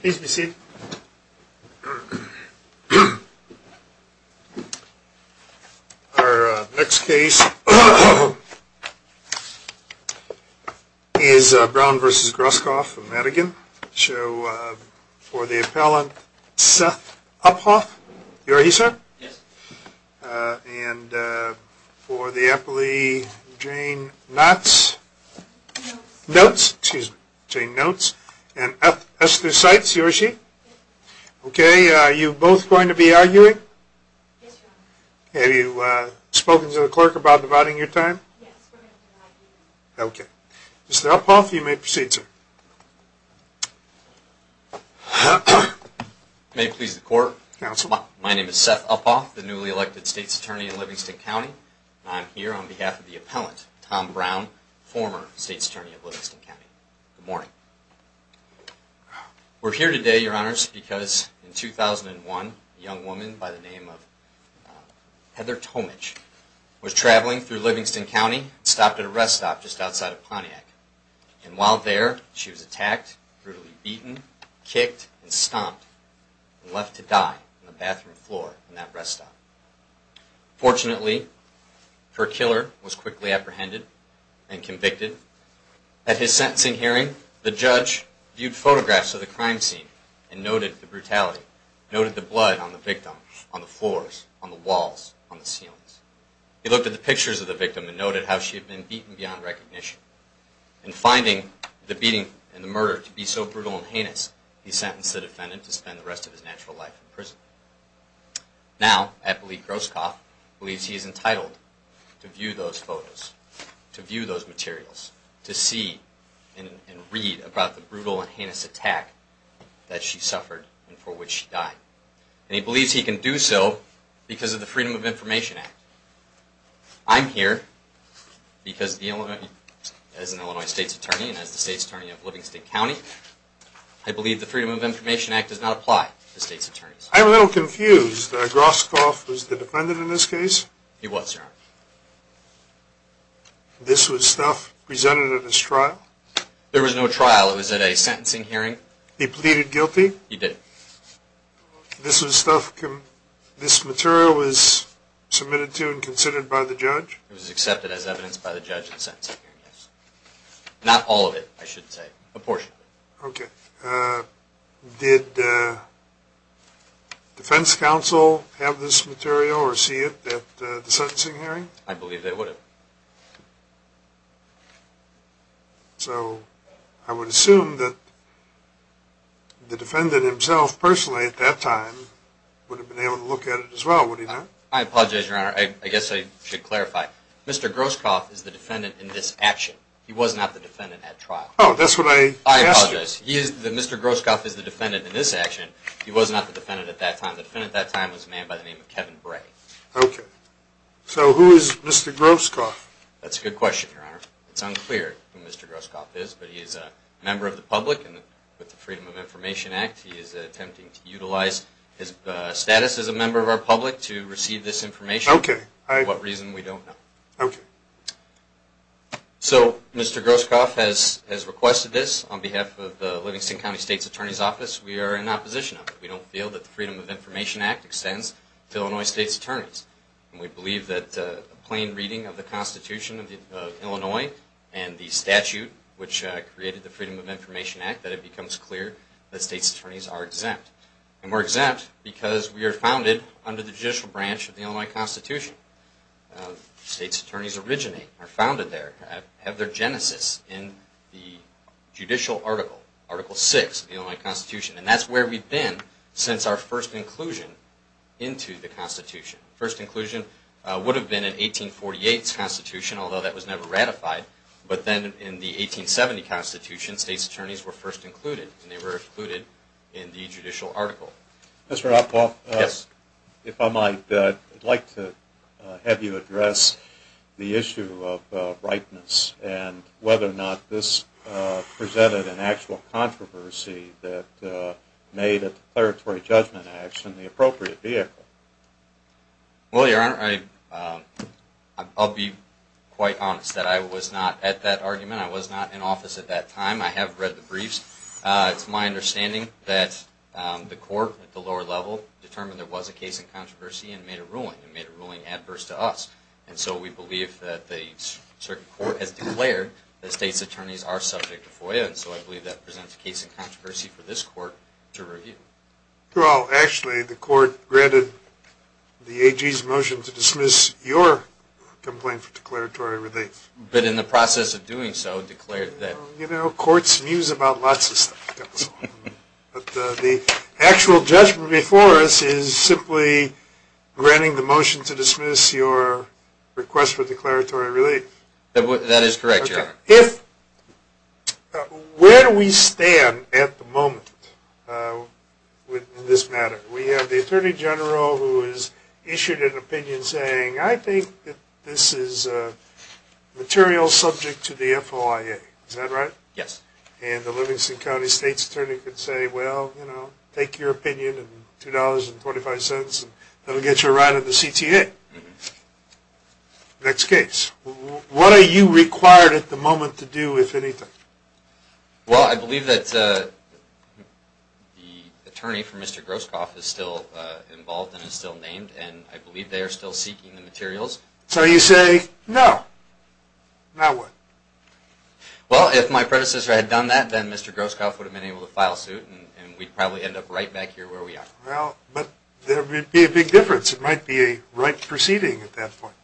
Please be seated. Our next case is Brown v. Grosskopf of Madigan. So for the appellant, Seth Uphoff. You are he, sir? Yes. And for the appellee, Jane Notts. Notes, excuse me. Jane Notes. And Esther Seitz, you are she? OK, are you both going to be arguing? Have you spoken to the clerk about dividing your time? OK. Mr. Uphoff, you may proceed, sir. May it please the court. Counsel. My name is Seth Uphoff, the newly elected state's attorney in Livingston County. I'm here on behalf of the appellant, Tom Brown, former state's attorney of Livingston County. Good morning. We're here today, your honors, because in 2001, a young woman by the name of Heather Tomich was traveling through Livingston County, stopped at a rest stop just outside of Pontiac. And while there, she was attacked, brutally beaten, kicked, and stomped, and left to die on the bathroom floor in that rest stop. Fortunately, her killer was quickly apprehended and convicted. At his sentencing hearing, the judge viewed photographs of the crime scene and noted the brutality, noted the blood on the victim, on the floors, on the walls, on the ceilings. He looked at the pictures of the victim and noted how she had been beaten beyond recognition. In finding the beating and the murder to be so brutal and heinous, he sentenced the defendant to spend the rest of his natural life in prison. Now, Adpolyte Groskopf believes he is entitled to view those photos, to view those materials, to see and read about the brutal and heinous attack that she suffered and for which she died. And he believes he can do so because of the Freedom of Information Act. I'm here because, as an Illinois state's attorney and as the state's attorney of Livingston County, I believe the Freedom of Information Act does not apply to state's attorneys. I'm a little confused. Groskopf was the defendant in this case? He was, Your Honor. This was stuff presented at his trial? There was no trial. It was at a sentencing hearing. He pleaded guilty? He did. This was stuff this material was submitted to and considered by the judge? It was accepted as evidence by the judge at the sentencing hearing, yes. Not all of it, I should say. A portion of it. OK. Did defense counsel have this material or see it at the sentencing hearing? I believe they would have. So I would assume that the defendant himself, personally, at that time, would have been able to look at it as well, would he not? I apologize, Your Honor. I guess I should clarify. Mr. Groskopf is the defendant in this action. He was not the defendant at trial. Oh, that's what I asked you. I apologize. Mr. Groskopf is the defendant in this action. He was not the defendant at that time. The defendant at that time was a man by the name of Kevin Bray. OK. So who is Mr. Groskopf? That's a good question, Your Honor. It's unclear who Mr. Groskopf is, but he is a member of the public. And with the Freedom of Information Act, he is attempting to utilize his status as a member of our public to receive this information. For what reason, we don't know. So Mr. Groskopf has requested this on behalf of the Livingston County State's Attorney's Office. We are in opposition of it. We don't feel that the Freedom of Information Act extends to Illinois State's attorneys. We believe that a plain reading of the Constitution of Illinois and the statute which created the Freedom of Information Act, that it becomes clear that state's attorneys are exempt. And we're exempt because we are founded under the judicial branch of the Illinois Constitution. State's attorneys originate, are founded there, have their genesis in the judicial article, Article 6 of the Illinois Constitution. And that's where we've been since our first inclusion into the Constitution. First inclusion would have been in 1848's Constitution, although that was never ratified. But then in the 1870 Constitution, state's attorneys were first included. And they were included in the judicial article. Mr. Opoff, if I might, I'd like to have you address the issue of rightness and whether or not this presented an actual controversy that made a declaratory judgment action the appropriate vehicle. Well, Your Honor, I'll be quite honest that I was not at that argument. I was not in office at that time. I have read the briefs. It's my understanding that the court at the lower level determined there was a case in controversy and made a ruling, and made a ruling adverse to us. And so we believe that the circuit court has declared that state's attorneys are subject to FOIA. And so I believe that presents a case in controversy for this court to review. Well, actually, the court granted the AG's motion to dismiss your complaint for declaratory relief. But in the process of doing so, declared that. You know, courts muse about lots of stuff, Counsel. But the actual judgment before us is simply granting the motion to dismiss your request for declaratory relief. That is correct, Your Honor. If, where do we stand at the moment in this matter? We have the attorney general who has issued an opinion saying, I think that this is a material subject to the FOIA. Is that right? Yes. And the Livingston County State's attorney could say, well, you know, take your opinion and $2.25. That'll get you a ride in the CTA. Next case. What are you required at the moment to do, if anything? Well, I believe that the attorney for Mr. Groskopf is still involved and is still named. And I believe they are still seeking the materials. So you say, no. Now what? Well, if my predecessor had done that, then Mr. Groskopf would have been able to file suit. And we'd probably end up right back here where we are. Well, but there would be a big difference. It might be a right proceeding at that point.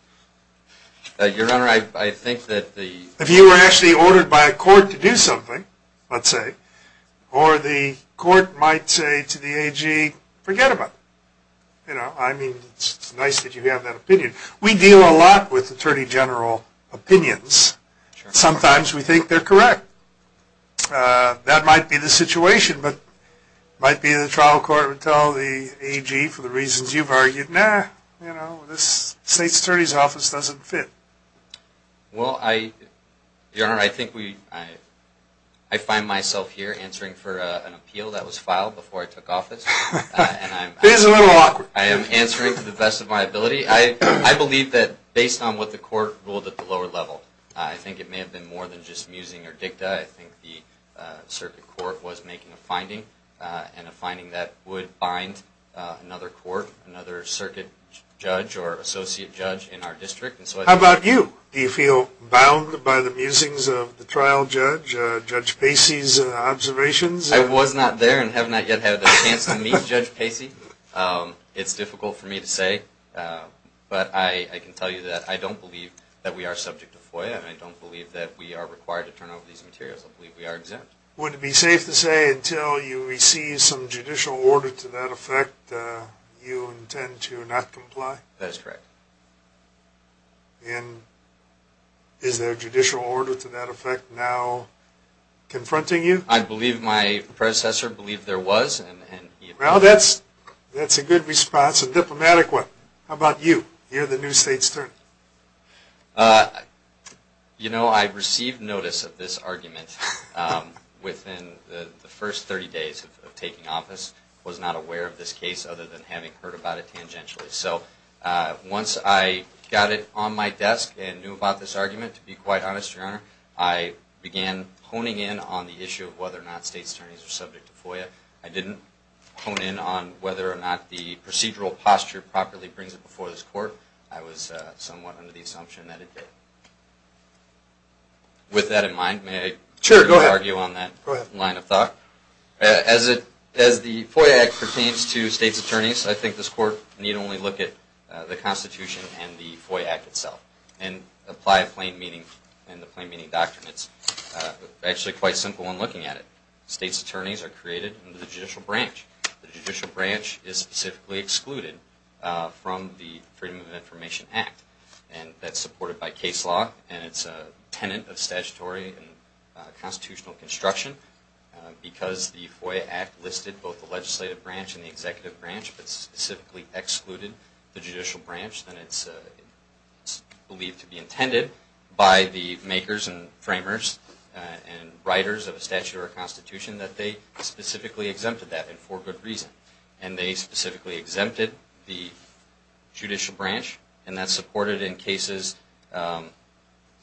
Your Honor, I think that the- If you were actually ordered by a court to do something, let's say, or the court might say to the AG, forget about it. I mean, it's nice that you have that opinion. We deal a lot with attorney general opinions. Sometimes we think they're correct. That might be the situation. But it might be the trial court would tell the AG, for the reasons you've argued, nah. This state attorney's office doesn't fit. Well, Your Honor, I think we- I find myself here answering for an appeal that was filed before I took office. It is a little awkward. I am answering to the best of my ability. I believe that, based on what the court ruled at the lower level, I think it may have been more than just musing or dicta. I think the circuit court was making a finding, and a finding that would bind another court, another circuit judge or associate judge in our district. How about you? Do you feel bound by the musings of the trial judge, Judge Pacey's observations? I was not there and have not yet had the chance to meet Judge Pacey. It's difficult for me to say. But I can tell you that I don't believe that we are subject to FOIA, and I don't believe that we are required to turn over these materials. I believe we are exempt. Would it be safe to say, until you receive some judicial order to that effect, you intend to not comply? That is correct. And is there a judicial order to that effect now confronting you? I believe my predecessor believed there was. Well, that's a good response, a diplomatic one. How about you? You're the new state's attorney. You know, I received notice of this argument within the first 30 days of taking office. Was not aware of this case, other than having heard about it tangentially. So once I got it on my desk and knew about this argument, to be quite honest, your honor, I began honing in on the issue of whether or not state's attorneys are subject to FOIA. I didn't hone in on whether or not the procedural posture properly brings it before this court. I was somewhat under the assumption that it did. With that in mind, may I argue on that line of thought? As the FOIA Act pertains to state's attorneys, I think this court need only look at the Constitution and the FOIA Act itself, and apply plain meaning and the plain meaning doctrines. Actually quite simple when looking at it. State's attorneys are created in the judicial branch. The judicial branch is specifically excluded from the Freedom of Information Act. And that's supported by case law, and it's a tenant of statutory and constitutional construction because the FOIA Act listed both the legislative branch and the executive branch, but specifically excluded the judicial branch. And it's believed to be intended by the makers and framers and writers of a statute or a constitution that they specifically exempted that, and for good reason. And they specifically exempted the judicial branch, and that's supported in cases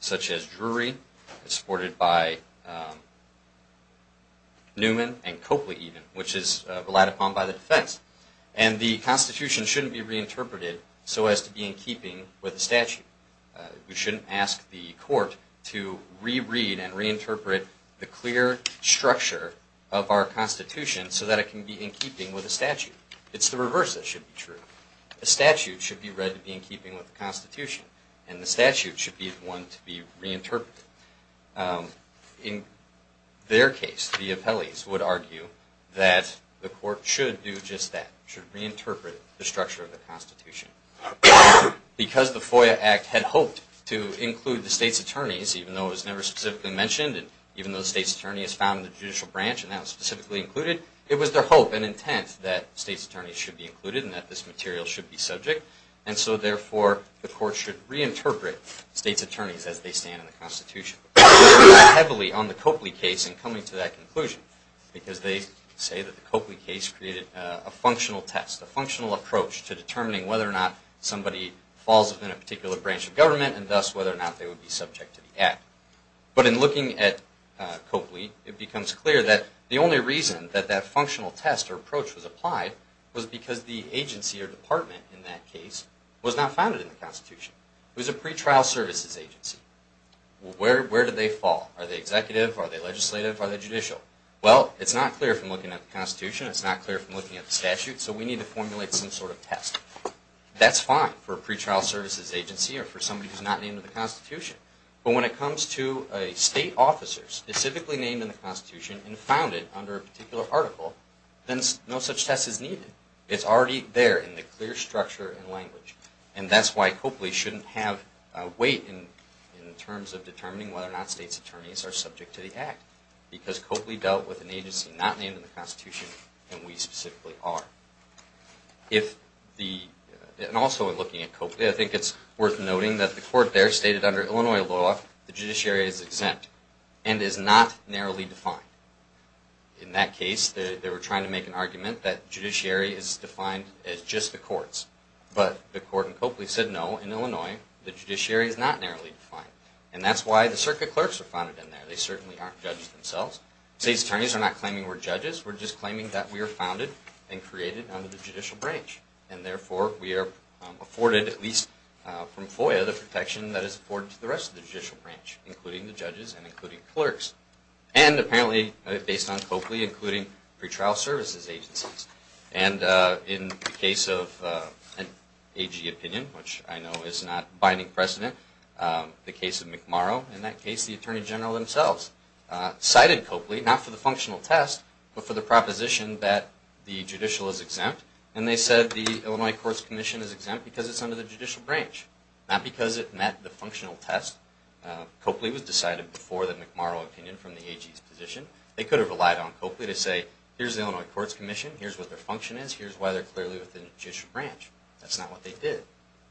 such as Drury, supported by Newman, and Copley even, which is relied upon by the defense. And the Constitution shouldn't be reinterpreted so as to be in keeping with the statute. We shouldn't ask the court to reread and reinterpret the clear structure of our Constitution so that it can be in keeping with the statute. It's the reverse that should be true. A statute should be read to be in keeping with the Constitution, and the statute should be one to be reinterpreted. In their case, the appellees would argue that the court should do just that, should reinterpret the structure of the Constitution. Because the FOIA Act had hoped to include the state's attorneys, even though it was never specifically mentioned, even though the state's attorney is found in the judicial branch and that was specifically included, it was their hope and intent that state's attorneys should be included and that this material should be subject. And so therefore, the court should reinterpret state's attorneys as they stand in the Constitution. Heavily on the Copley case and coming to that conclusion, because they say that the Copley case created a functional test, a functional approach to determining whether or not somebody falls within a particular branch of government, and thus whether or not they would be subject to the act. But in looking at Copley, it becomes clear that the only reason that that functional test or approach was applied was because the agency or department in that case was not founded in the Constitution. It was a pretrial services agency. Where did they fall? Are they executive? Are they legislative? Are they judicial? Well, it's not clear from looking at the Constitution. It's not clear from looking at the statute. So we need to formulate some sort of test. That's fine for a pretrial services agency or for somebody who's not named in the Constitution. But when it comes to a state officer specifically named in the Constitution and founded under a particular article, then no such test is needed. It's already there in the clear structure and language. And that's why Copley shouldn't have weight in terms of determining whether or not state's attorneys are subject to the act, because Copley dealt with an agency not named in the Constitution, and we specifically are. And also in looking at Copley, I think it's worth noting that the court there stated under Illinois law, the judiciary is exempt and is not narrowly defined. In that case, they were trying to make an argument that judiciary is defined as just the courts. But the court in Copley said, no, in Illinois, the judiciary is not narrowly defined. And that's why the circuit clerks are founded in there. They certainly aren't judges themselves. State's attorneys are not claiming we're judges. We're just claiming that we are founded and created under the judicial branch. And therefore, we are afforded, at least from FOIA, the protection that is afforded to the rest of the judicial branch, including the judges and including clerks. And apparently, based on Copley, including pretrial services agencies. And in the case of an AG opinion, which I know is not binding precedent, the case of McMurrow, in that case, the attorney general themselves cited Copley, not for the functional test, but for the proposition that the judicial is exempt. And they said the Illinois Courts Commission is exempt because it's under the judicial branch, not because it met the functional test. Copley was decided before the McMurrow opinion from the AG's position. They could have relied on Copley to say, here's the Illinois Courts Commission. Here's what their function is. Here's why they're clearly within the judicial branch. That's not what they did.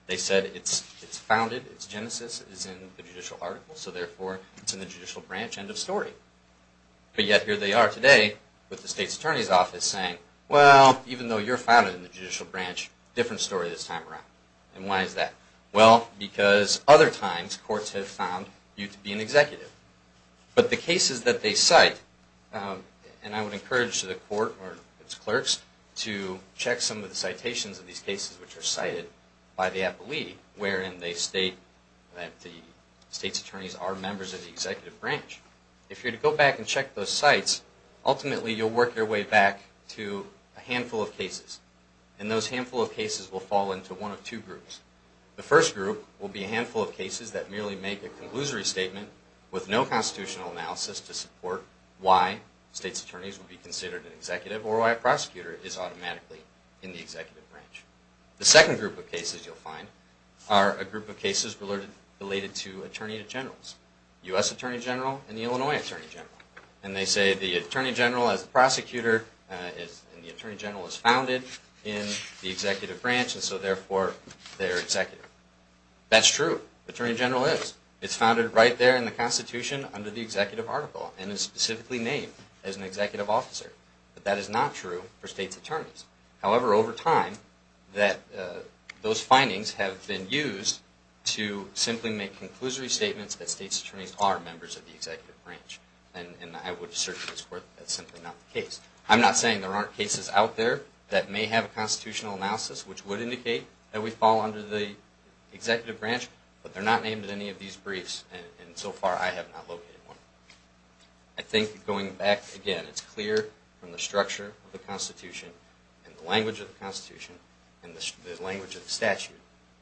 They said it's founded, its genesis is in the judicial article. So therefore, it's in the judicial branch, end of story. But yet, here they are today with the state's attorney's office saying, well, even though you're founded in the judicial branch, different story this time around. And why is that? Well, because other times, courts have found you to be an executive. But the cases that they cite, and I would encourage the court or its clerks to check some of the citations of these cases which are cited by the appellee, wherein they state that the state's attorneys are members of the executive branch. If you're to go back and check those sites, ultimately, you'll work your way back to a handful of cases. And those handful of cases will fall into one of two groups. The first group will be a handful of cases that merely make a conclusory statement with no constitutional analysis to support why state's attorneys would be considered an executive or why a prosecutor is automatically in the executive branch. The second group of cases you'll find are a group of cases related to attorney generals. US Attorney General and the Illinois Attorney General. And they say the Attorney General, as a prosecutor, and the Attorney General is founded in the executive branch, and so therefore, they're executive. That's true. The Attorney General is. It's founded right there in the Constitution under the executive article. And it's specifically named as an executive officer. But that is not true for state's attorneys. However, over time, those findings have been used to simply make conclusory statements that state's attorneys are members of the executive branch. And I would assert to this court that's simply not the case. I'm not saying there aren't cases out there that may have a constitutional analysis, which would indicate that we fall under the executive branch. But they're not named in any of these briefs. And so far, I have not located one. I think going back again, it's clear from the structure of the Constitution, and the language of the Constitution, and the language of the statute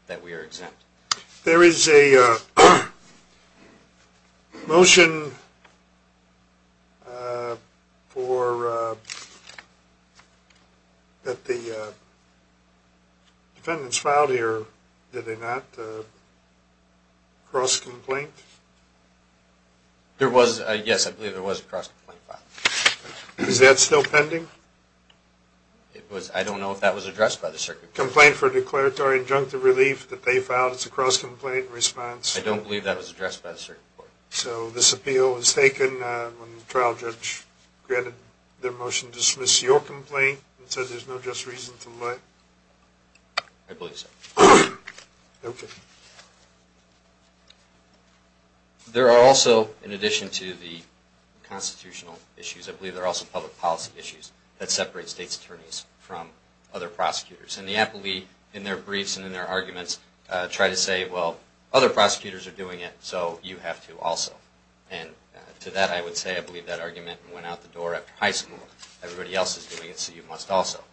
that we are exempt. There is a motion that the defendants filed here. Did they not cross-complaint? There was, yes. I believe there was a cross-complaint filed. Is that still pending? I don't know if that was addressed by the Circuit Court. Complaint for declaratory injunctive relief that they filed as a cross-complaint in response. I don't believe that was addressed by the Circuit Court. So this appeal was taken when the trial judge granted their motion to dismiss your complaint, and said there's no just reason to let? I believe so. There are also, in addition to the constitutional issues, I believe there are also public policy issues that separate state's attorneys from other prosecutors. And the appellee, in their briefs and in their arguments, try to say, well, other prosecutors are doing it, so you have to also. And to that, I would say, I believe that argument went out the door after high school. Everybody else is doing it, so you must also.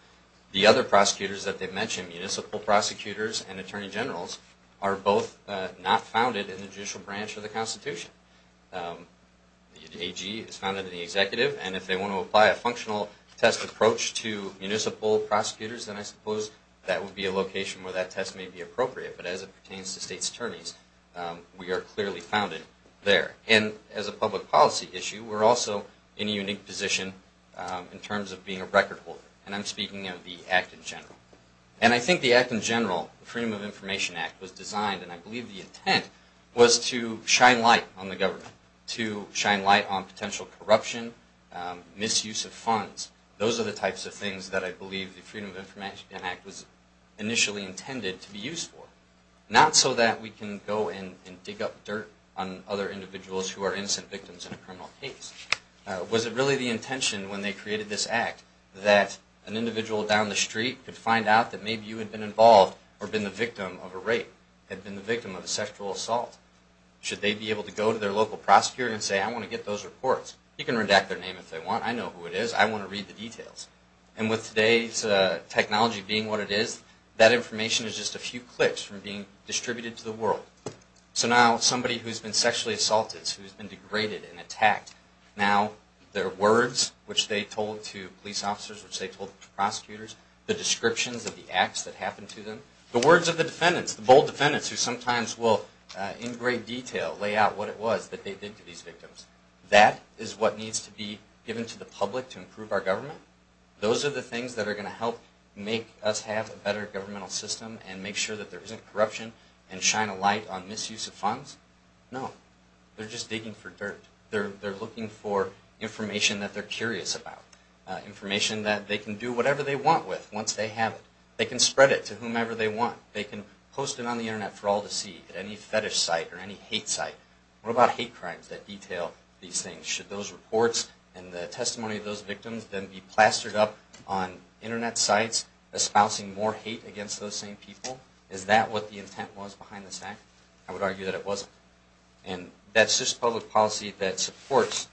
The other prosecutors that they mentioned, municipal prosecutors and attorney generals, are both not founded in the judicial branch of the Constitution. The AG is founded in the executive, and if they want to apply a functional test approach to municipal prosecutors, then I suppose that would be a location where that test may be appropriate. But as it pertains to state's attorneys, we are clearly founded there. And as a public policy issue, we're also in a unique position in terms of being a record holder. And I'm speaking of the Act in General. And I think the Act in General, the Freedom of Information Act, was designed, and I believe the intent, was to shine light on the government, to shine light on potential corruption, misuse of funds. Those are the types of things that I believe the Freedom of Information Act was initially intended to be used for. Not so that we can go in and dig up dirt on other individuals who are innocent victims in a criminal case. Was it really the intention, when they created this act, that an individual down the street could find out that maybe you had been involved, or been the victim of a rape, had been the victim of a sexual assault? Should they be able to go to their local prosecutor and say, I want to get those reports? You can redact their name if they want. I know who it is. I want to read the details. And with today's technology being what it is, that information is just a few clicks from being distributed to the world. So now somebody who's been sexually assaulted, who's been degraded and attacked, now their words, which they told to police officers, which they told to prosecutors, the descriptions of the acts that happened to them, the words of the defendants, the bold defendants, who sometimes will, in great detail, lay out what it was that they did to these victims. That is what needs to be given to the public to improve our government. Those are the things that are going to help make us have a better governmental system, and make sure that there isn't corruption, and shine a light on misuse of funds. No. They're just digging for dirt. They're looking for information that they're curious about, information that they can do whatever they want with once they have it. They can spread it to whomever they want. They can post it on the internet for all to see at any fetish site or any hate site. What about hate crimes that detail these things? Should those reports and the testimony of those victims then be plastered up on internet sites, espousing more hate against those same people? Is that what the intent was behind this act? I would argue that it wasn't. And that's just public policy that supports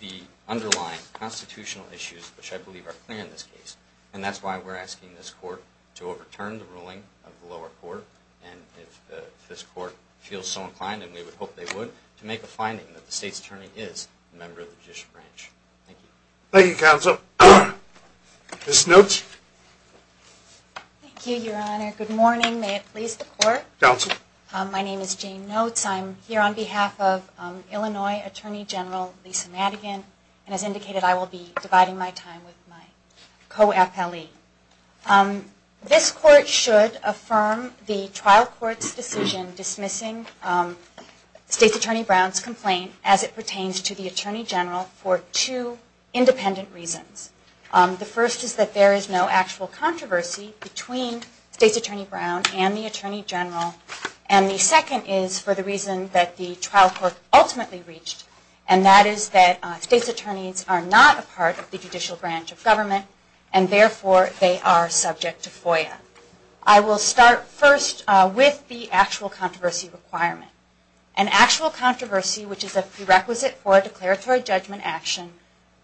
the underlying constitutional issues, which I believe are clear in this case. And that's why we're asking this court to overturn the ruling of the lower court. And if this court feels so inclined, and we would hope they would, to make a finding that the state's attorney is a member of the judicial branch. Thank you. Thank you, counsel. Ms. Notes. Thank you, your honor. Good morning. May it please the court. Counsel. My name is Jane Notes. I'm here on behalf of Illinois Attorney General Lisa Madigan. And as indicated, I will be dividing my time with my co-affiliate. This court should affirm the trial court's decision dismissing State's Attorney Brown's complaint as it pertains to the Attorney General for two independent reasons. The first is that there is no actual controversy between State's Attorney Brown and the Attorney General. And the second is for the reason that the trial court ultimately reached, and that is that State's attorneys are not a part of the judicial branch of government, and therefore, they are subject to FOIA. I will start first with the actual controversy requirement. An actual controversy, which is a prerequisite for a declaratory judgment action,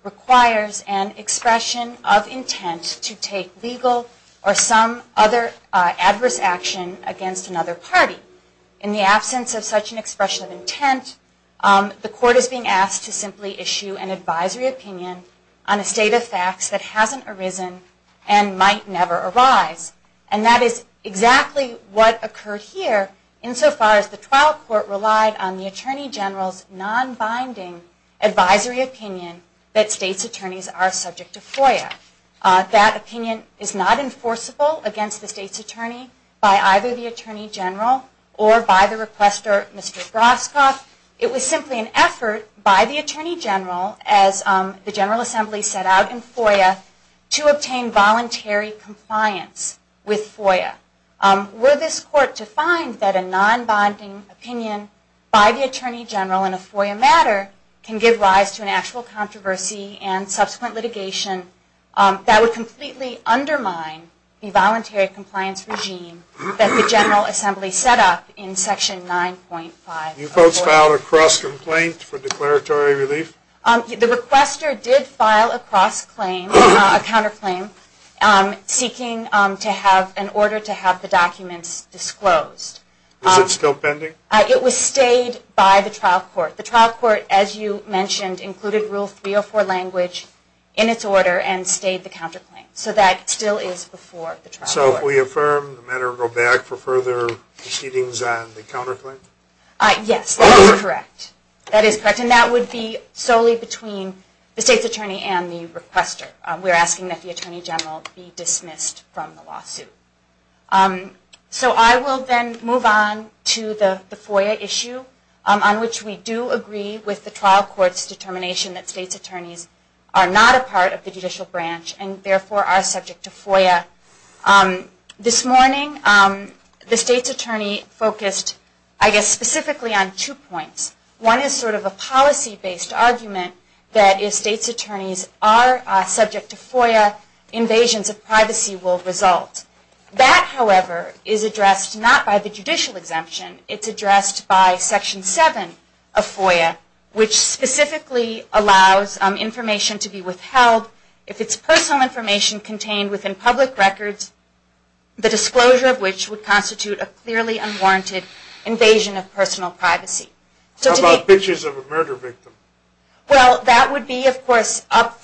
requires an expression of intent to take legal or some other adverse action against another party. In the absence of such an expression of intent, the court is being asked to simply issue an advisory opinion on a state of facts that hasn't arisen and might never arise. And that is exactly what occurred here, insofar as the trial court relied on the Attorney General's non-binding advisory opinion that State's attorneys are subject to FOIA. That opinion is not enforceable against the State's attorney by either the Attorney General or by the requester, Mr. Groskopf. It was simply an effort by the Attorney General, as the General Assembly set out in FOIA, to obtain voluntary compliance with FOIA. Were this court to find that a non-binding opinion by the Attorney General in a FOIA matter can give rise to an actual controversy and subsequent litigation that would completely undermine the voluntary compliance regime that the General Assembly set up in section 9.5 of FOIA? You folks filed a cross-complaint for declaratory relief? The requester did file a cross-claim, a counter-claim, seeking to have an order to have the documents disclosed. Was it still pending? It was stayed by the trial court. The trial court, as you mentioned, included Rule 304 language in its order and stayed the counter-claim. So that still is before the trial court. So if we affirm, the matter will go back for further proceedings on the counter-claim? Yes, that is correct. That is correct. And that would be solely between the State's attorney and the requester. We're asking that the Attorney General be dismissed from the lawsuit. So I will then move on to the FOIA issue, on which we do agree with the trial court's determination that State's attorneys are not a part of the judicial branch and therefore are subject to FOIA. This morning, the State's attorney focused, I guess, specifically on two points. One is sort of a policy-based argument that if State's attorneys are subject to FOIA, invasions of privacy will result. That, however, is addressed not by the judicial exemption. It's addressed by Section 7 of FOIA, which specifically allows information to be withheld if it's personal information contained within public records, the disclosure of which would constitute a clearly unwarranted invasion of personal privacy. How about pictures of a murder victim? Well, that would be, of course, up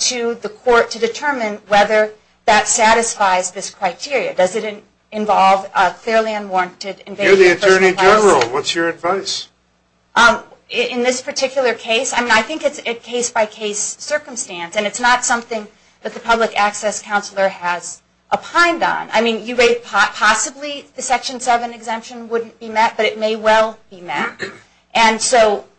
to the court to determine whether that satisfies this criteria. Does it involve a fairly unwarranted invasion? You're the attorney general. What's your advice? In this particular case, I mean, I think it's a case-by-case circumstance, and it's not something that the public access counselor has opined on. I mean, possibly the Section 7 exemption wouldn't be met, but it may well be met.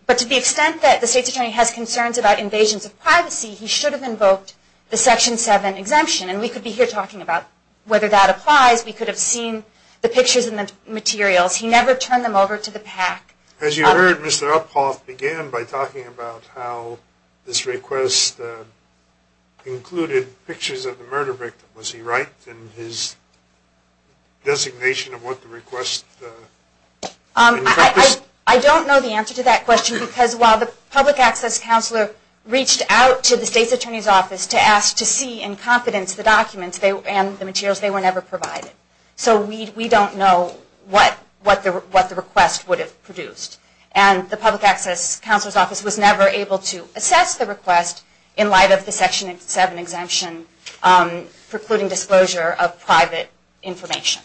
But to the extent that the State's attorney has concerns about invasions of privacy, he should have invoked the Section 7 exemption. And we could be here talking about whether that applies. We could have seen the pictures and the materials. He never turned them over to the PAC. As you heard, Mr. Uphoff began by talking about how this request included pictures of the murder victim. Was he right in his designation of what the request encompassed? I don't know the answer to that question, because while the public access counselor reached out to the State's attorney's office to ask to see in confidence the documents and the materials they were never provided. So we don't know what the request would have produced. And the public access counselor's office was never able to assess the request in light of the Section 7 exemption precluding disclosure of private information.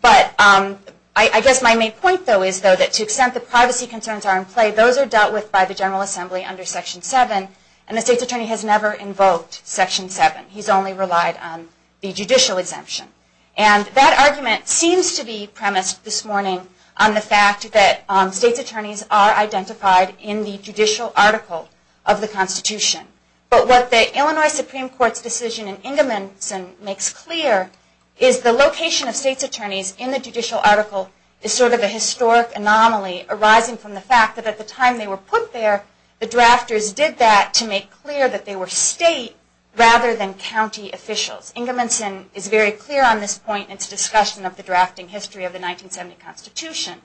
But I guess my main point, though, is that to the extent the privacy concerns are in play, those are dealt with by the General Assembly under Section 7, and the State's attorney has never invoked Section 7. He's only relied on the judicial exemption. And that argument seems to be premised this morning on the fact that State's attorneys are identified in the judicial article of the Constitution. But what the Illinois Supreme Court's decision in Ingeminsen makes clear is the location of State's attorneys in the judicial article is sort of a historic anomaly arising from the fact that at the time they were put there, the drafters did that to make clear that they were state rather than county officials. Ingeminsen is very clear on this point in his discussion of the drafting history of the 1970 Constitution.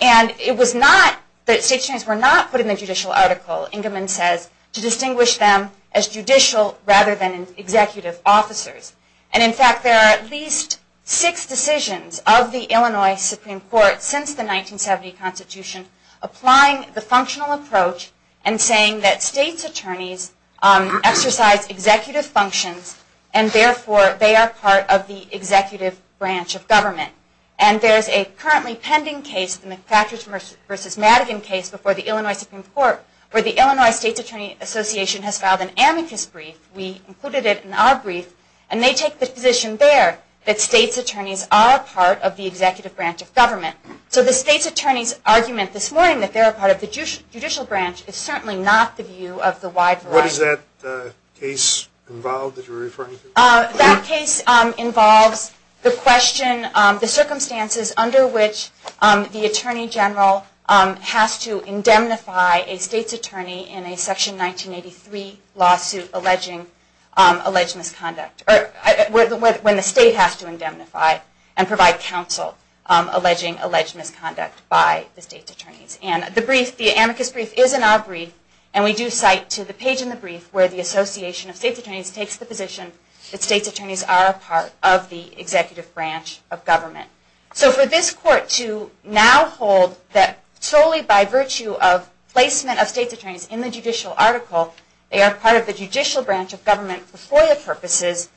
And it was not that State's attorneys were not put in the judicial article, Ingemin says, to distinguish them as judicial rather than executive officers. And in fact, there are at least six decisions of the Illinois Supreme Court since the 1970 Constitution applying the functional approach and saying that State's attorneys exercise executive functions and therefore they are part of the executive branch of government. And there is a currently pending case, the McFatridge versus Madigan case before the Illinois Supreme Court where the Illinois State's Attorney Association has filed an amicus brief. We included it in our brief. And they take the position there that State's attorneys are part of the executive branch of government. So the State's attorney's argument this morning that they are part of the judicial branch is certainly not the view of the wide variety. What does that case involve that you're referring to? That case involves the question, the circumstances under which the attorney general has to indemnify a State's attorney in a section 1983 lawsuit when the state has to indemnify and provide counsel alleging alleged misconduct by the State's attorneys. And the brief, the amicus brief, is in our brief. And we do cite to the page in the brief where the Association of State's Attorneys takes the position that State's attorneys are a part of the executive branch of government. So for this court to now hold that solely by virtue of placement of State's attorneys in the judicial article, they are part of the judicial branch of government for FOIA purposes,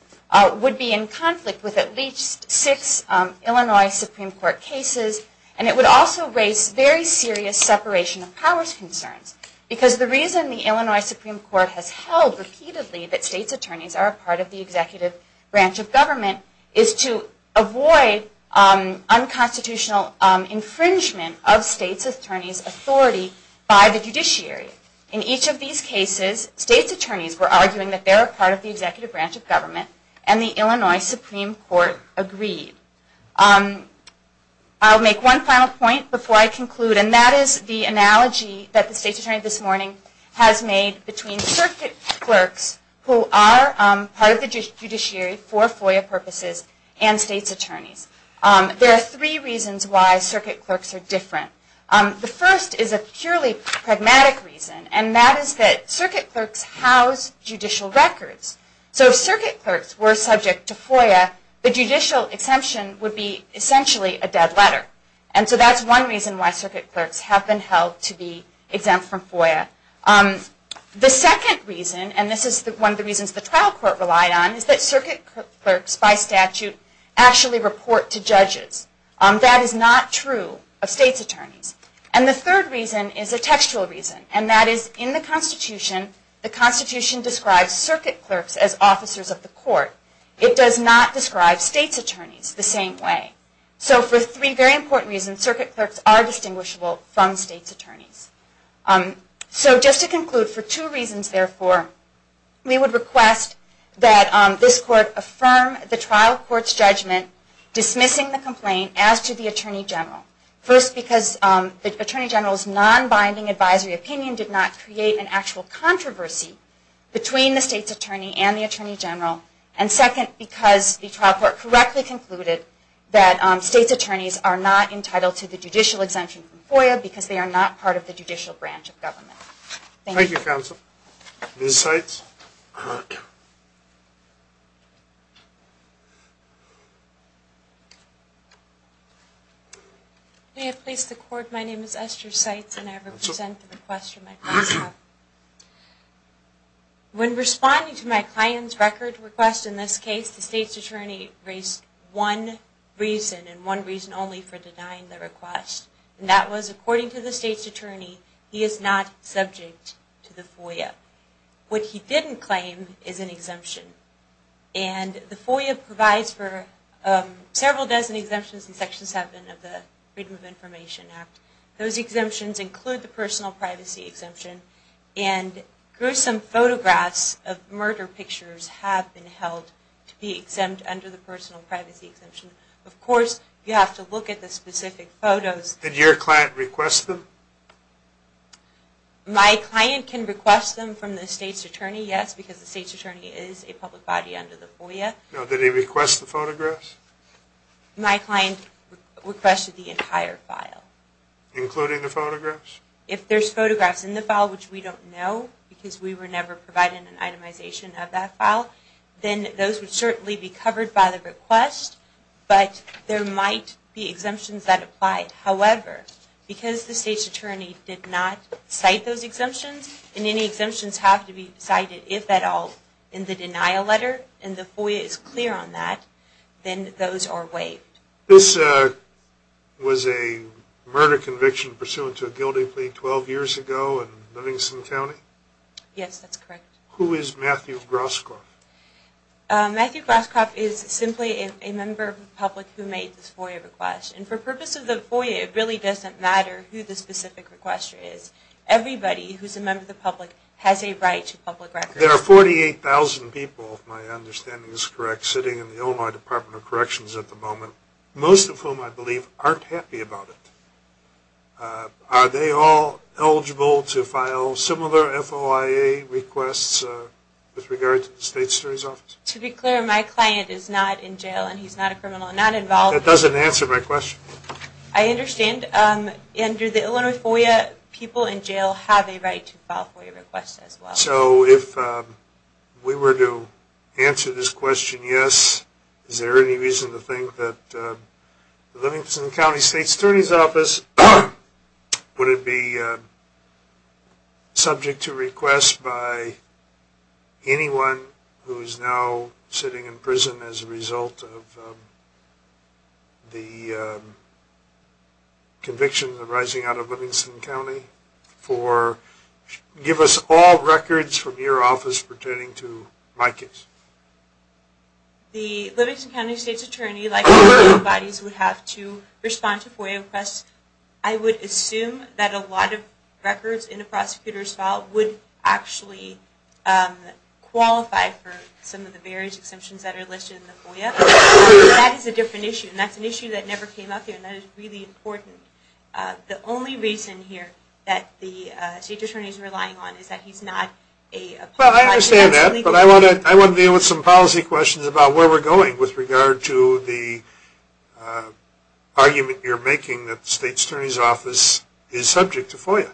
would be in conflict with at least six Illinois Supreme Court cases. And it would also raise very serious separation of powers concerns. Because the reason the Illinois Supreme Court has held repeatedly that State's attorneys are a part of the executive branch of government is to avoid unconstitutional infringement of State's attorney's authority by the judiciary. In each of these cases, State's attorneys were arguing that they're a part of the executive branch of government, and the Illinois Supreme Court agreed. I'll make one final point before I conclude. And that is the analogy that the State's attorney this morning has made between circuit clerks, who are part of the judiciary for FOIA purposes, and State's attorneys. There are three reasons why circuit clerks are different. The first is a purely pragmatic reason. And that is that circuit clerks house judicial records. So if circuit clerks were subject to FOIA, the judicial exemption would be essentially a dead letter. And so that's one reason why circuit clerks have been held to be exempt from FOIA. The second reason, and this is one of the reasons the trial court relied on, is that circuit clerks by statute actually report to judges. That is not true of State's attorneys. And the third reason is a textual reason. And that is in the Constitution, the Constitution describes circuit clerks as officers of the court. It does not describe State's attorneys the same way. So for three very important reasons, circuit clerks are distinguishable from State's attorneys. So just to conclude for two reasons, therefore, we would request that this court affirm the trial court's judgment dismissing the complaint as to the attorney general. First, because the attorney general's non-binding advisory opinion did not create an actual controversy between the State's attorney and the attorney general. And second, because the trial court correctly concluded that State's attorneys are not entitled to the judicial exemption from FOIA because they are not part of the judicial branch of government. Thank you, counsel. Ms. Seitz. May I please the court? My name is Esther Seitz, and I represent for the question my colleagues have. When responding to my client's record request in this case, the State's attorney raised one reason, and one reason only for denying the request. And that was, according to the State's attorney, he is not subject to the FOIA. What he didn't claim is an exemption. And the FOIA provides for several dozen exemptions in Section 7 of the Freedom of Information Act. Those exemptions include the personal privacy exemption. And gruesome photographs of murder pictures have been held to be exempt under the personal privacy exemption. Of course, you have to look at the specific photos. Did your client request them? My client can request them from the State's attorney, yes, because the State's attorney is a public body under the FOIA. Now, did he request the photographs? My client requested the entire file. Including the photographs? If there's photographs in the file, which we don't know, because we were never provided an itemization of that file, then those would certainly be covered by the request. But there might be exemptions that apply. However, because the State's attorney did not cite those exemptions, and any exemptions have to be cited, if at all, in the denial letter, and the FOIA is clear on that, then those are waived. This was a murder conviction pursuant to a guilty plea 12 years ago in Livingston County? Yes, that's correct. Who is Matthew Groskopf? Matthew Groskopf is simply a member of the public who made this FOIA request. And for purpose of the FOIA, it really doesn't matter who the specific requester is. Everybody who's a member of the public has a right to public records. There are 48,000 people, if my understanding is correct, sitting in the Illinois Department of Corrections at the moment, most of whom, I believe, aren't happy about it. Are they all eligible to file similar FOIA requests with regard to the State's attorney's office? To be clear, my client is not in jail, and he's not a criminal and not involved. That doesn't answer my question. I understand. have a right to file FOIA requests as well? So if we were to answer this question yes, is there any reason to think that the Livingston County State's attorney's office wouldn't be subject to requests by anyone who is now sitting in prison as a result of the conviction arising out of Livingston County? Give us all records from your office pertaining to my case. The Livingston County State's attorney, like all other bodies, would have to respond to FOIA requests. I would assume that a lot of records in a prosecutor's file would actually qualify for some of the various exemptions that are listed in the FOIA. That is a different issue. And that's an issue that never came up here, and that is really important. The only reason here that the state attorney is relying on is that he's not a policy person. Well, I understand that. But I want to deal with some policy questions about where we're going with regard to the argument you're making that the state's attorney's office is subject to FOIA.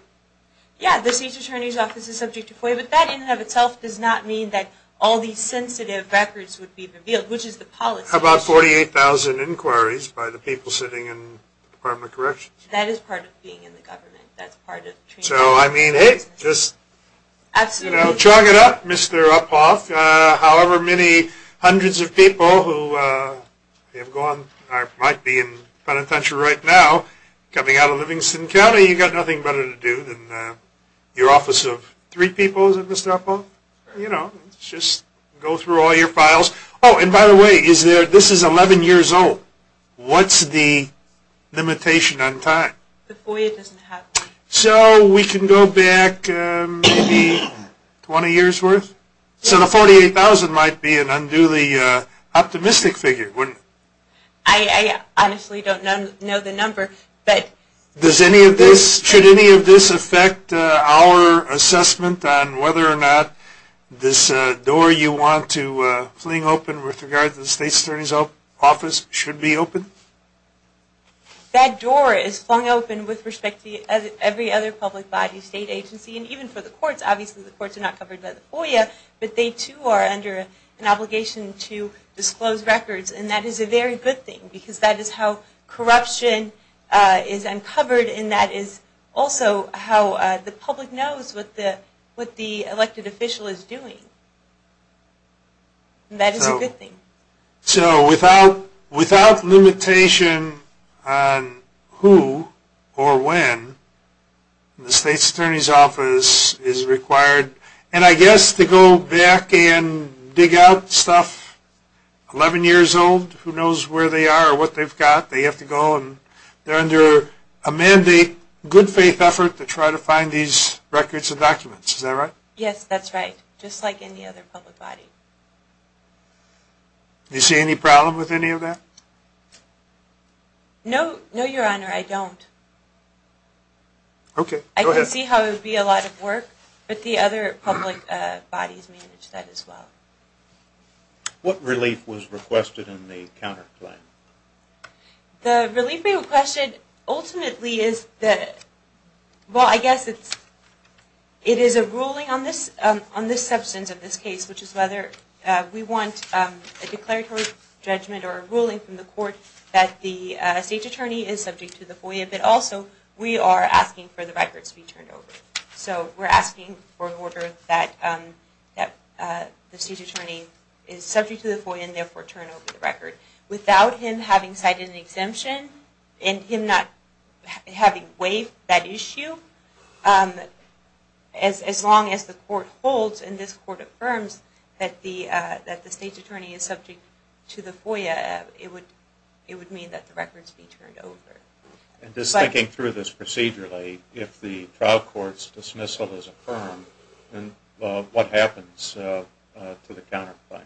Yeah, the state's attorney's office is subject to FOIA. But that in and of itself does not mean that all these sensitive records would be revealed, which is the policy. How about 48,000 inquiries by the people sitting in the Department of Corrections? That is part of being in the government. That's part of training. So I mean, hey, just chug it up, Mr. Uphoff. However many hundreds of people who might be in penitentiary right now coming out of Livingston County, you've got nothing better to do than your office of three people, Mr. Uphoff. You know, just go through all your files. Oh, and by the way, this is 11 years old. What's the limitation on time? The FOIA doesn't have one. So we can go back maybe 20 years worth. So the 48,000 might be an unduly optimistic figure, wouldn't it? I honestly don't know the number, but. Does any of this, should any of this affect our assessment on whether or not this door you want to fling open with regard to the state attorney's office should be open? That door is flung open with respect to every other public body, state agency, and even for the courts. Obviously, the courts are not covered by the FOIA. But they, too, are under an obligation to disclose records. And that is a very good thing, because that is how corruption is uncovered. And that is also how the public knows what the elected official is doing. And that is a good thing. So without limitation on who or when the state's attorney's office is required. And I guess to go back and dig out stuff 11 years old, who knows where they are or what they've got. They have to go. And they're under a mandate, good faith effort, to try to find these records and documents. Is that right? Yes, that's right. Just like any other public body. Do you see any problem with any of that? No, your honor, I don't. OK, go ahead. I can see how it would be a lot of work. But the other public bodies manage that as well. What relief was requested in the counterclaim? The relief we requested ultimately is that, well, it is a ruling on this substance of this case, which is whether we want a declaratory judgment or a ruling from the court that the state's attorney is subject to the FOIA. But also, we are asking for the records to be turned over. So we're asking for an order that the state's attorney is subject to the FOIA and therefore turn over the record without him having cited an exemption and him not having waived that issue. As long as the court holds and this court affirms that the state's attorney is subject to the FOIA, it would mean that the records be turned over. And just thinking through this procedurally, if the trial court's dismissal is affirmed, then what happens to the counterclaim?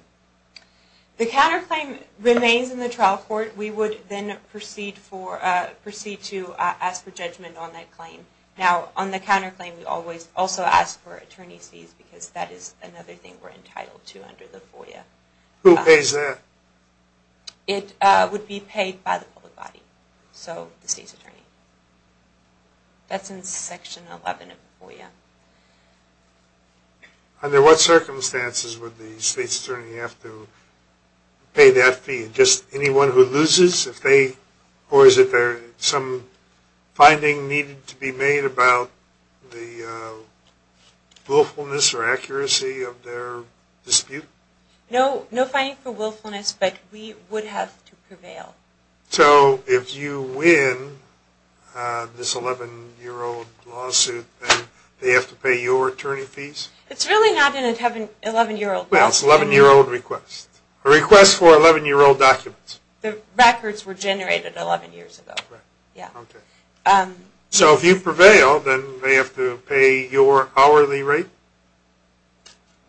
The counterclaim remains in the trial court. We would then proceed to ask for judgment on that claim. Now, on the counterclaim, we also ask for attorney's fees, because that is another thing we're entitled to under the FOIA. Who pays that? It would be paid by the public body, so the state's attorney. That's in section 11 of the FOIA. Under what circumstances would the state's attorney have to pay that fee? Just anyone who loses? Or is it some finding needed to be made about the willfulness or accuracy of their dispute? No, no finding for willfulness, but we would have to prevail. So if you win this 11-year-old lawsuit, they have to pay your attorney fees? It's really not an 11-year-old lawsuit. Well, it's an 11-year-old request. A request for 11-year-old documents. The records were generated 11 years ago. Yeah. So if you prevail, then they have to pay your hourly rate?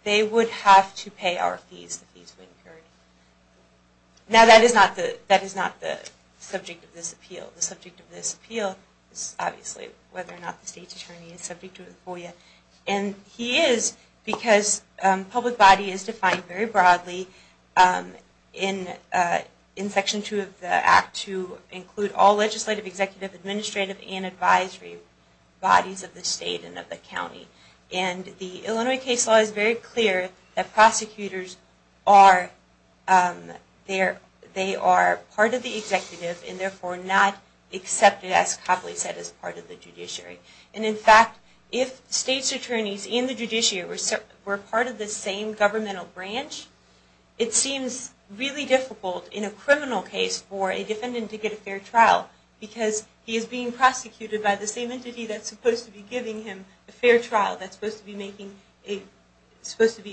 They would have to pay our fees, the fees we incurred. Now, that is not the subject of this appeal. The subject of this appeal is obviously whether or not the state's attorney is subject to FOIA. And he is, because public body is defined very broadly in Section 2 of the Act to include all legislative, executive, administrative, and advisory bodies of the state and of the county. And the Illinois case law is very clear that prosecutors are part of the executive, and therefore not accepted, as Copley said, as part of the judiciary. And in fact, if the state's attorneys and the judiciary were part of the same governmental branch, it seems really difficult in a criminal case for a defendant to get a fair trial, because he is being prosecuted by the same entity that's supposed to be giving him a fair trial. That's supposed to be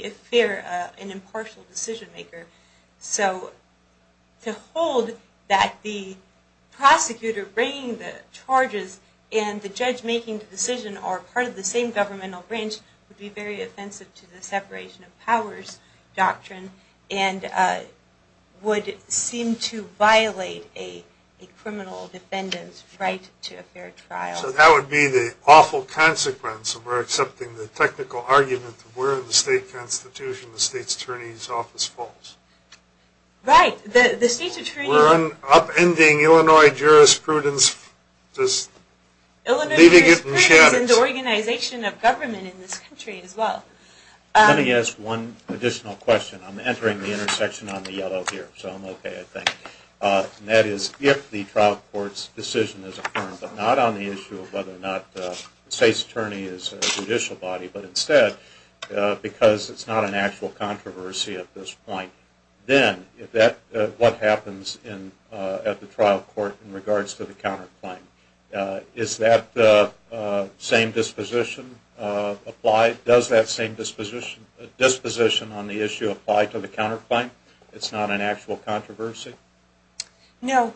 a fair and impartial decision maker. So to hold that the prosecutor bringing the charges and the judge making the decision are part of the same governmental branch would be very offensive to the separation of powers doctrine, and would seem to violate a criminal defendant's right to a fair trial. So that would be the awful consequence of accepting the technical argument that we're in the state constitution, the state's attorney's office falls. Right. The state's attorney's office. We're upending Illinois jurisprudence, just leaving it in the shadows. And in this country as well. Let me ask one additional question. I'm entering the intersection on the yellow here, so I'm OK, I think. That is, if the trial court's decision is affirmed, but not on the issue of whether or not the state's attorney is a judicial body, but instead, because it's not an actual controversy at this point, then what happens at the trial court in regards to the counterclaim? Is that the same disposition applied? Does that same disposition on the issue apply to the counterclaim? It's not an actual controversy? No.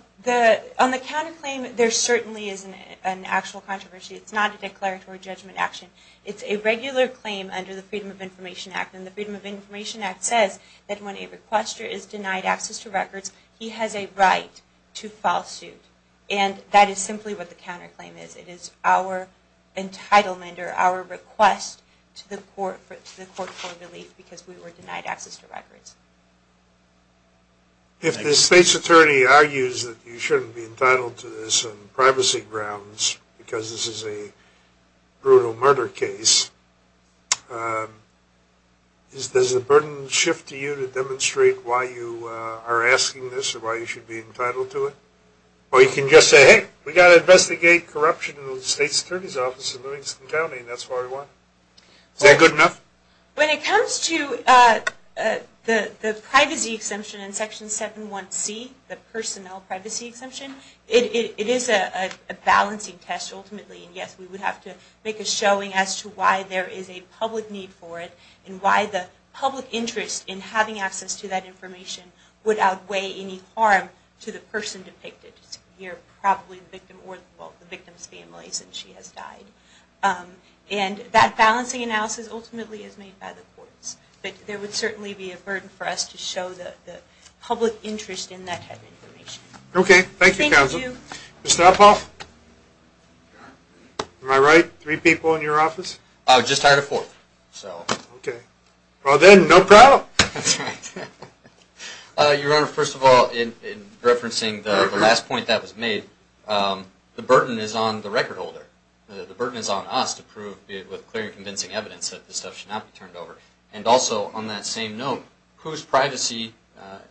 On the counterclaim, there certainly isn't an actual controversy. It's not a declaratory judgment action. It's a regular claim under the Freedom of Information Act. And the Freedom of Information Act says that when a requester is denied access to records, he has a right to file suit. And that is simply what the counterclaim is. It is our entitlement, or our request, to the court for relief, because we were denied access to records. If the state's attorney argues that you shouldn't be entitled to this on privacy grounds, because this is a brutal murder case, does the burden shift to you to demonstrate why you are asking this, or why you should be entitled to it? Or you can just say, hey, we've got to investigate corruption in the state's attorney's office in Livingston County, and that's what we want. Is that good enough? When it comes to the privacy exemption in Section 7.1c, the personnel privacy exemption, it is a balancing test, ultimately. And yes, we would have to make a showing as to why there is a public need for it, and why the public interest in having access to that information would outweigh any harm to the person depicted. You're probably the victim's family, since she has died. And that balancing analysis, ultimately, is made by the courts. But there would certainly be a burden for us to show the public interest in that type of information. OK, thank you, counsel. Mr. Apolf? Am I right? Three people in your office? I was just tired of four, so. OK. Well, then, no problem. That's right. Your Honor, first of all, in referencing the last point that was made, the burden is on the record holder. The burden is on us to prove, with clear and convincing evidence, that this stuff should not be turned over. And also, on that same note, whose privacy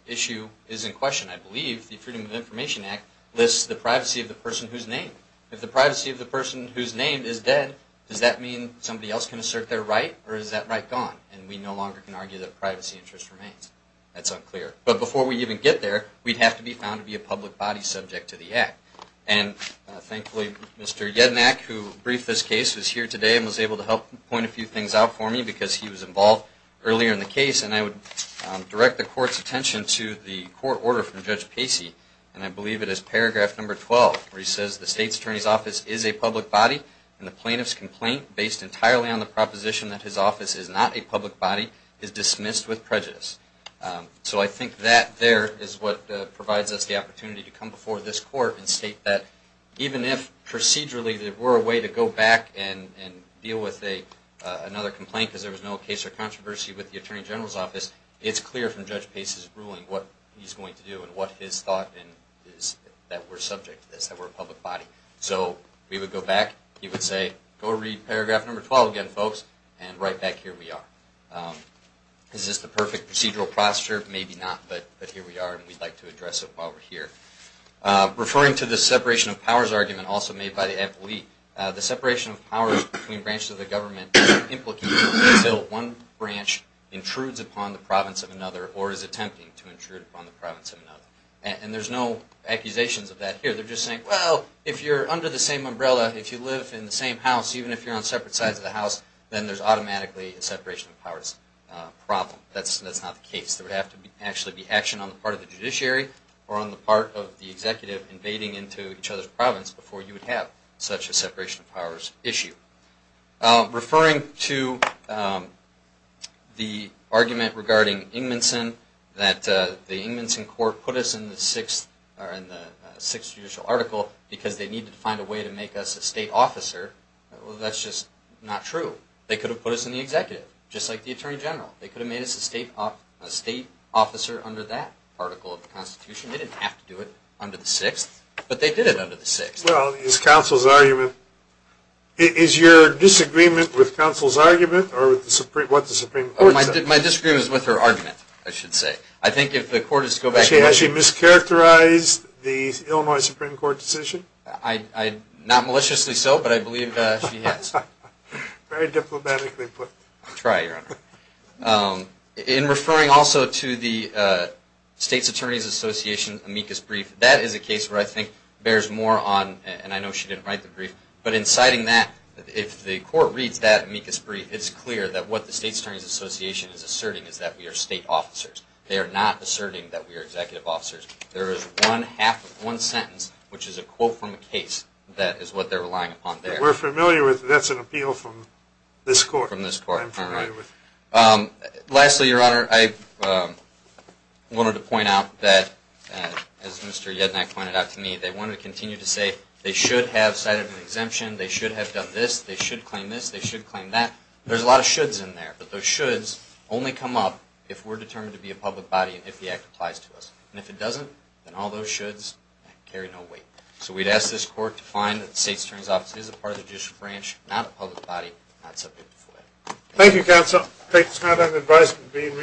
issue is in question. I believe the Freedom of Information Act lists the privacy of the person who's named. If the privacy of the person who's named is dead, does that mean somebody else can assert their right, or is that right gone? And we no longer can argue that privacy interest remains. That's unclear. But before we even get there, we'd have to be found to be a public body subject to the act. And thankfully, Mr. Jednak, who briefed this case, was here today and was able to help point a few things out for me, because he was involved earlier in the case. And I would direct the court's attention to the court order from Judge Pacey. And I believe it is paragraph number 12, where he says, the state's attorney's office is a public body. And the plaintiff's complaint, based entirely on the proposition that his office is not a public body, is dismissed with prejudice. So I think that there is what provides us the opportunity to come before this court and state that, even if procedurally there were a way to go back and deal with another complaint, because there was no case or controversy with the Attorney General's office, it's clear from Judge Pacey's ruling what he's going to do and what his thought is that we're subject to this, that we're a public body. So we would go back. He would say, go read paragraph number 12. Again, folks, and right back here we are. Is this the perfect procedural procedure? Maybe not, but here we are, and we'd like to address it while we're here. Referring to the separation of powers argument also made by the athlete, the separation of powers between branches of the government is implicated until one branch intrudes upon the province of another or is attempting to intrude upon the province of another. And there's no accusations of that here. They're just saying, well, if you're under the same umbrella, if you live in the same house, even if you're on separate sides of the house, then there's automatically a separation of powers problem. That's not the case. There would have to actually be action on the part of the judiciary or on the part of the executive invading into each other's province before you would have such a separation of powers issue. Referring to the argument regarding Ingmanson that the Ingmanson court put us in the sixth judicial article because they needed to find a way to make us a state officer. That's just not true. They could have put us in the executive, just like the attorney general. They could have made us a state officer under that article of the Constitution. They didn't have to do it under the sixth, but they did it under the sixth. Well, is counsel's argument, is your disagreement with counsel's argument or what the Supreme Court said? My disagreement is with her argument, I should say. I think if the court is to go back and look at it. Has she mischaracterized the Illinois Supreme Court decision? Not maliciously so, but I believe she has. Very diplomatically put. I'll try, Your Honor. In referring also to the State's Attorney's Association amicus brief, that is a case where I think bears more on, and I know she didn't write the brief, but in citing that, if the court reads that amicus brief, it's clear that what the State's Attorney's Association is asserting is that we are state officers. They are not asserting that we are executive officers. There is one sentence, which is a quote from a case, that is what they're relying upon there. We're familiar with that's an appeal from this court. From this court, all right. Lastly, Your Honor, I wanted to point out that, as Mr. Yednack pointed out to me, they want to continue to say they should have cited an exemption, they should have done this, they should claim this, they should claim that. There's a lot of shoulds in there, but those shoulds only come up if we're determined to be a public body and if the act applies to us. And if it doesn't, then all those shoulds carry no weight. So we'd ask this court to find that the State's Attorney's Office is a part of the Judicial Branch, not a public body, not subject to FOIA. Thank you, counsel. I take this kind of advice from being recessed.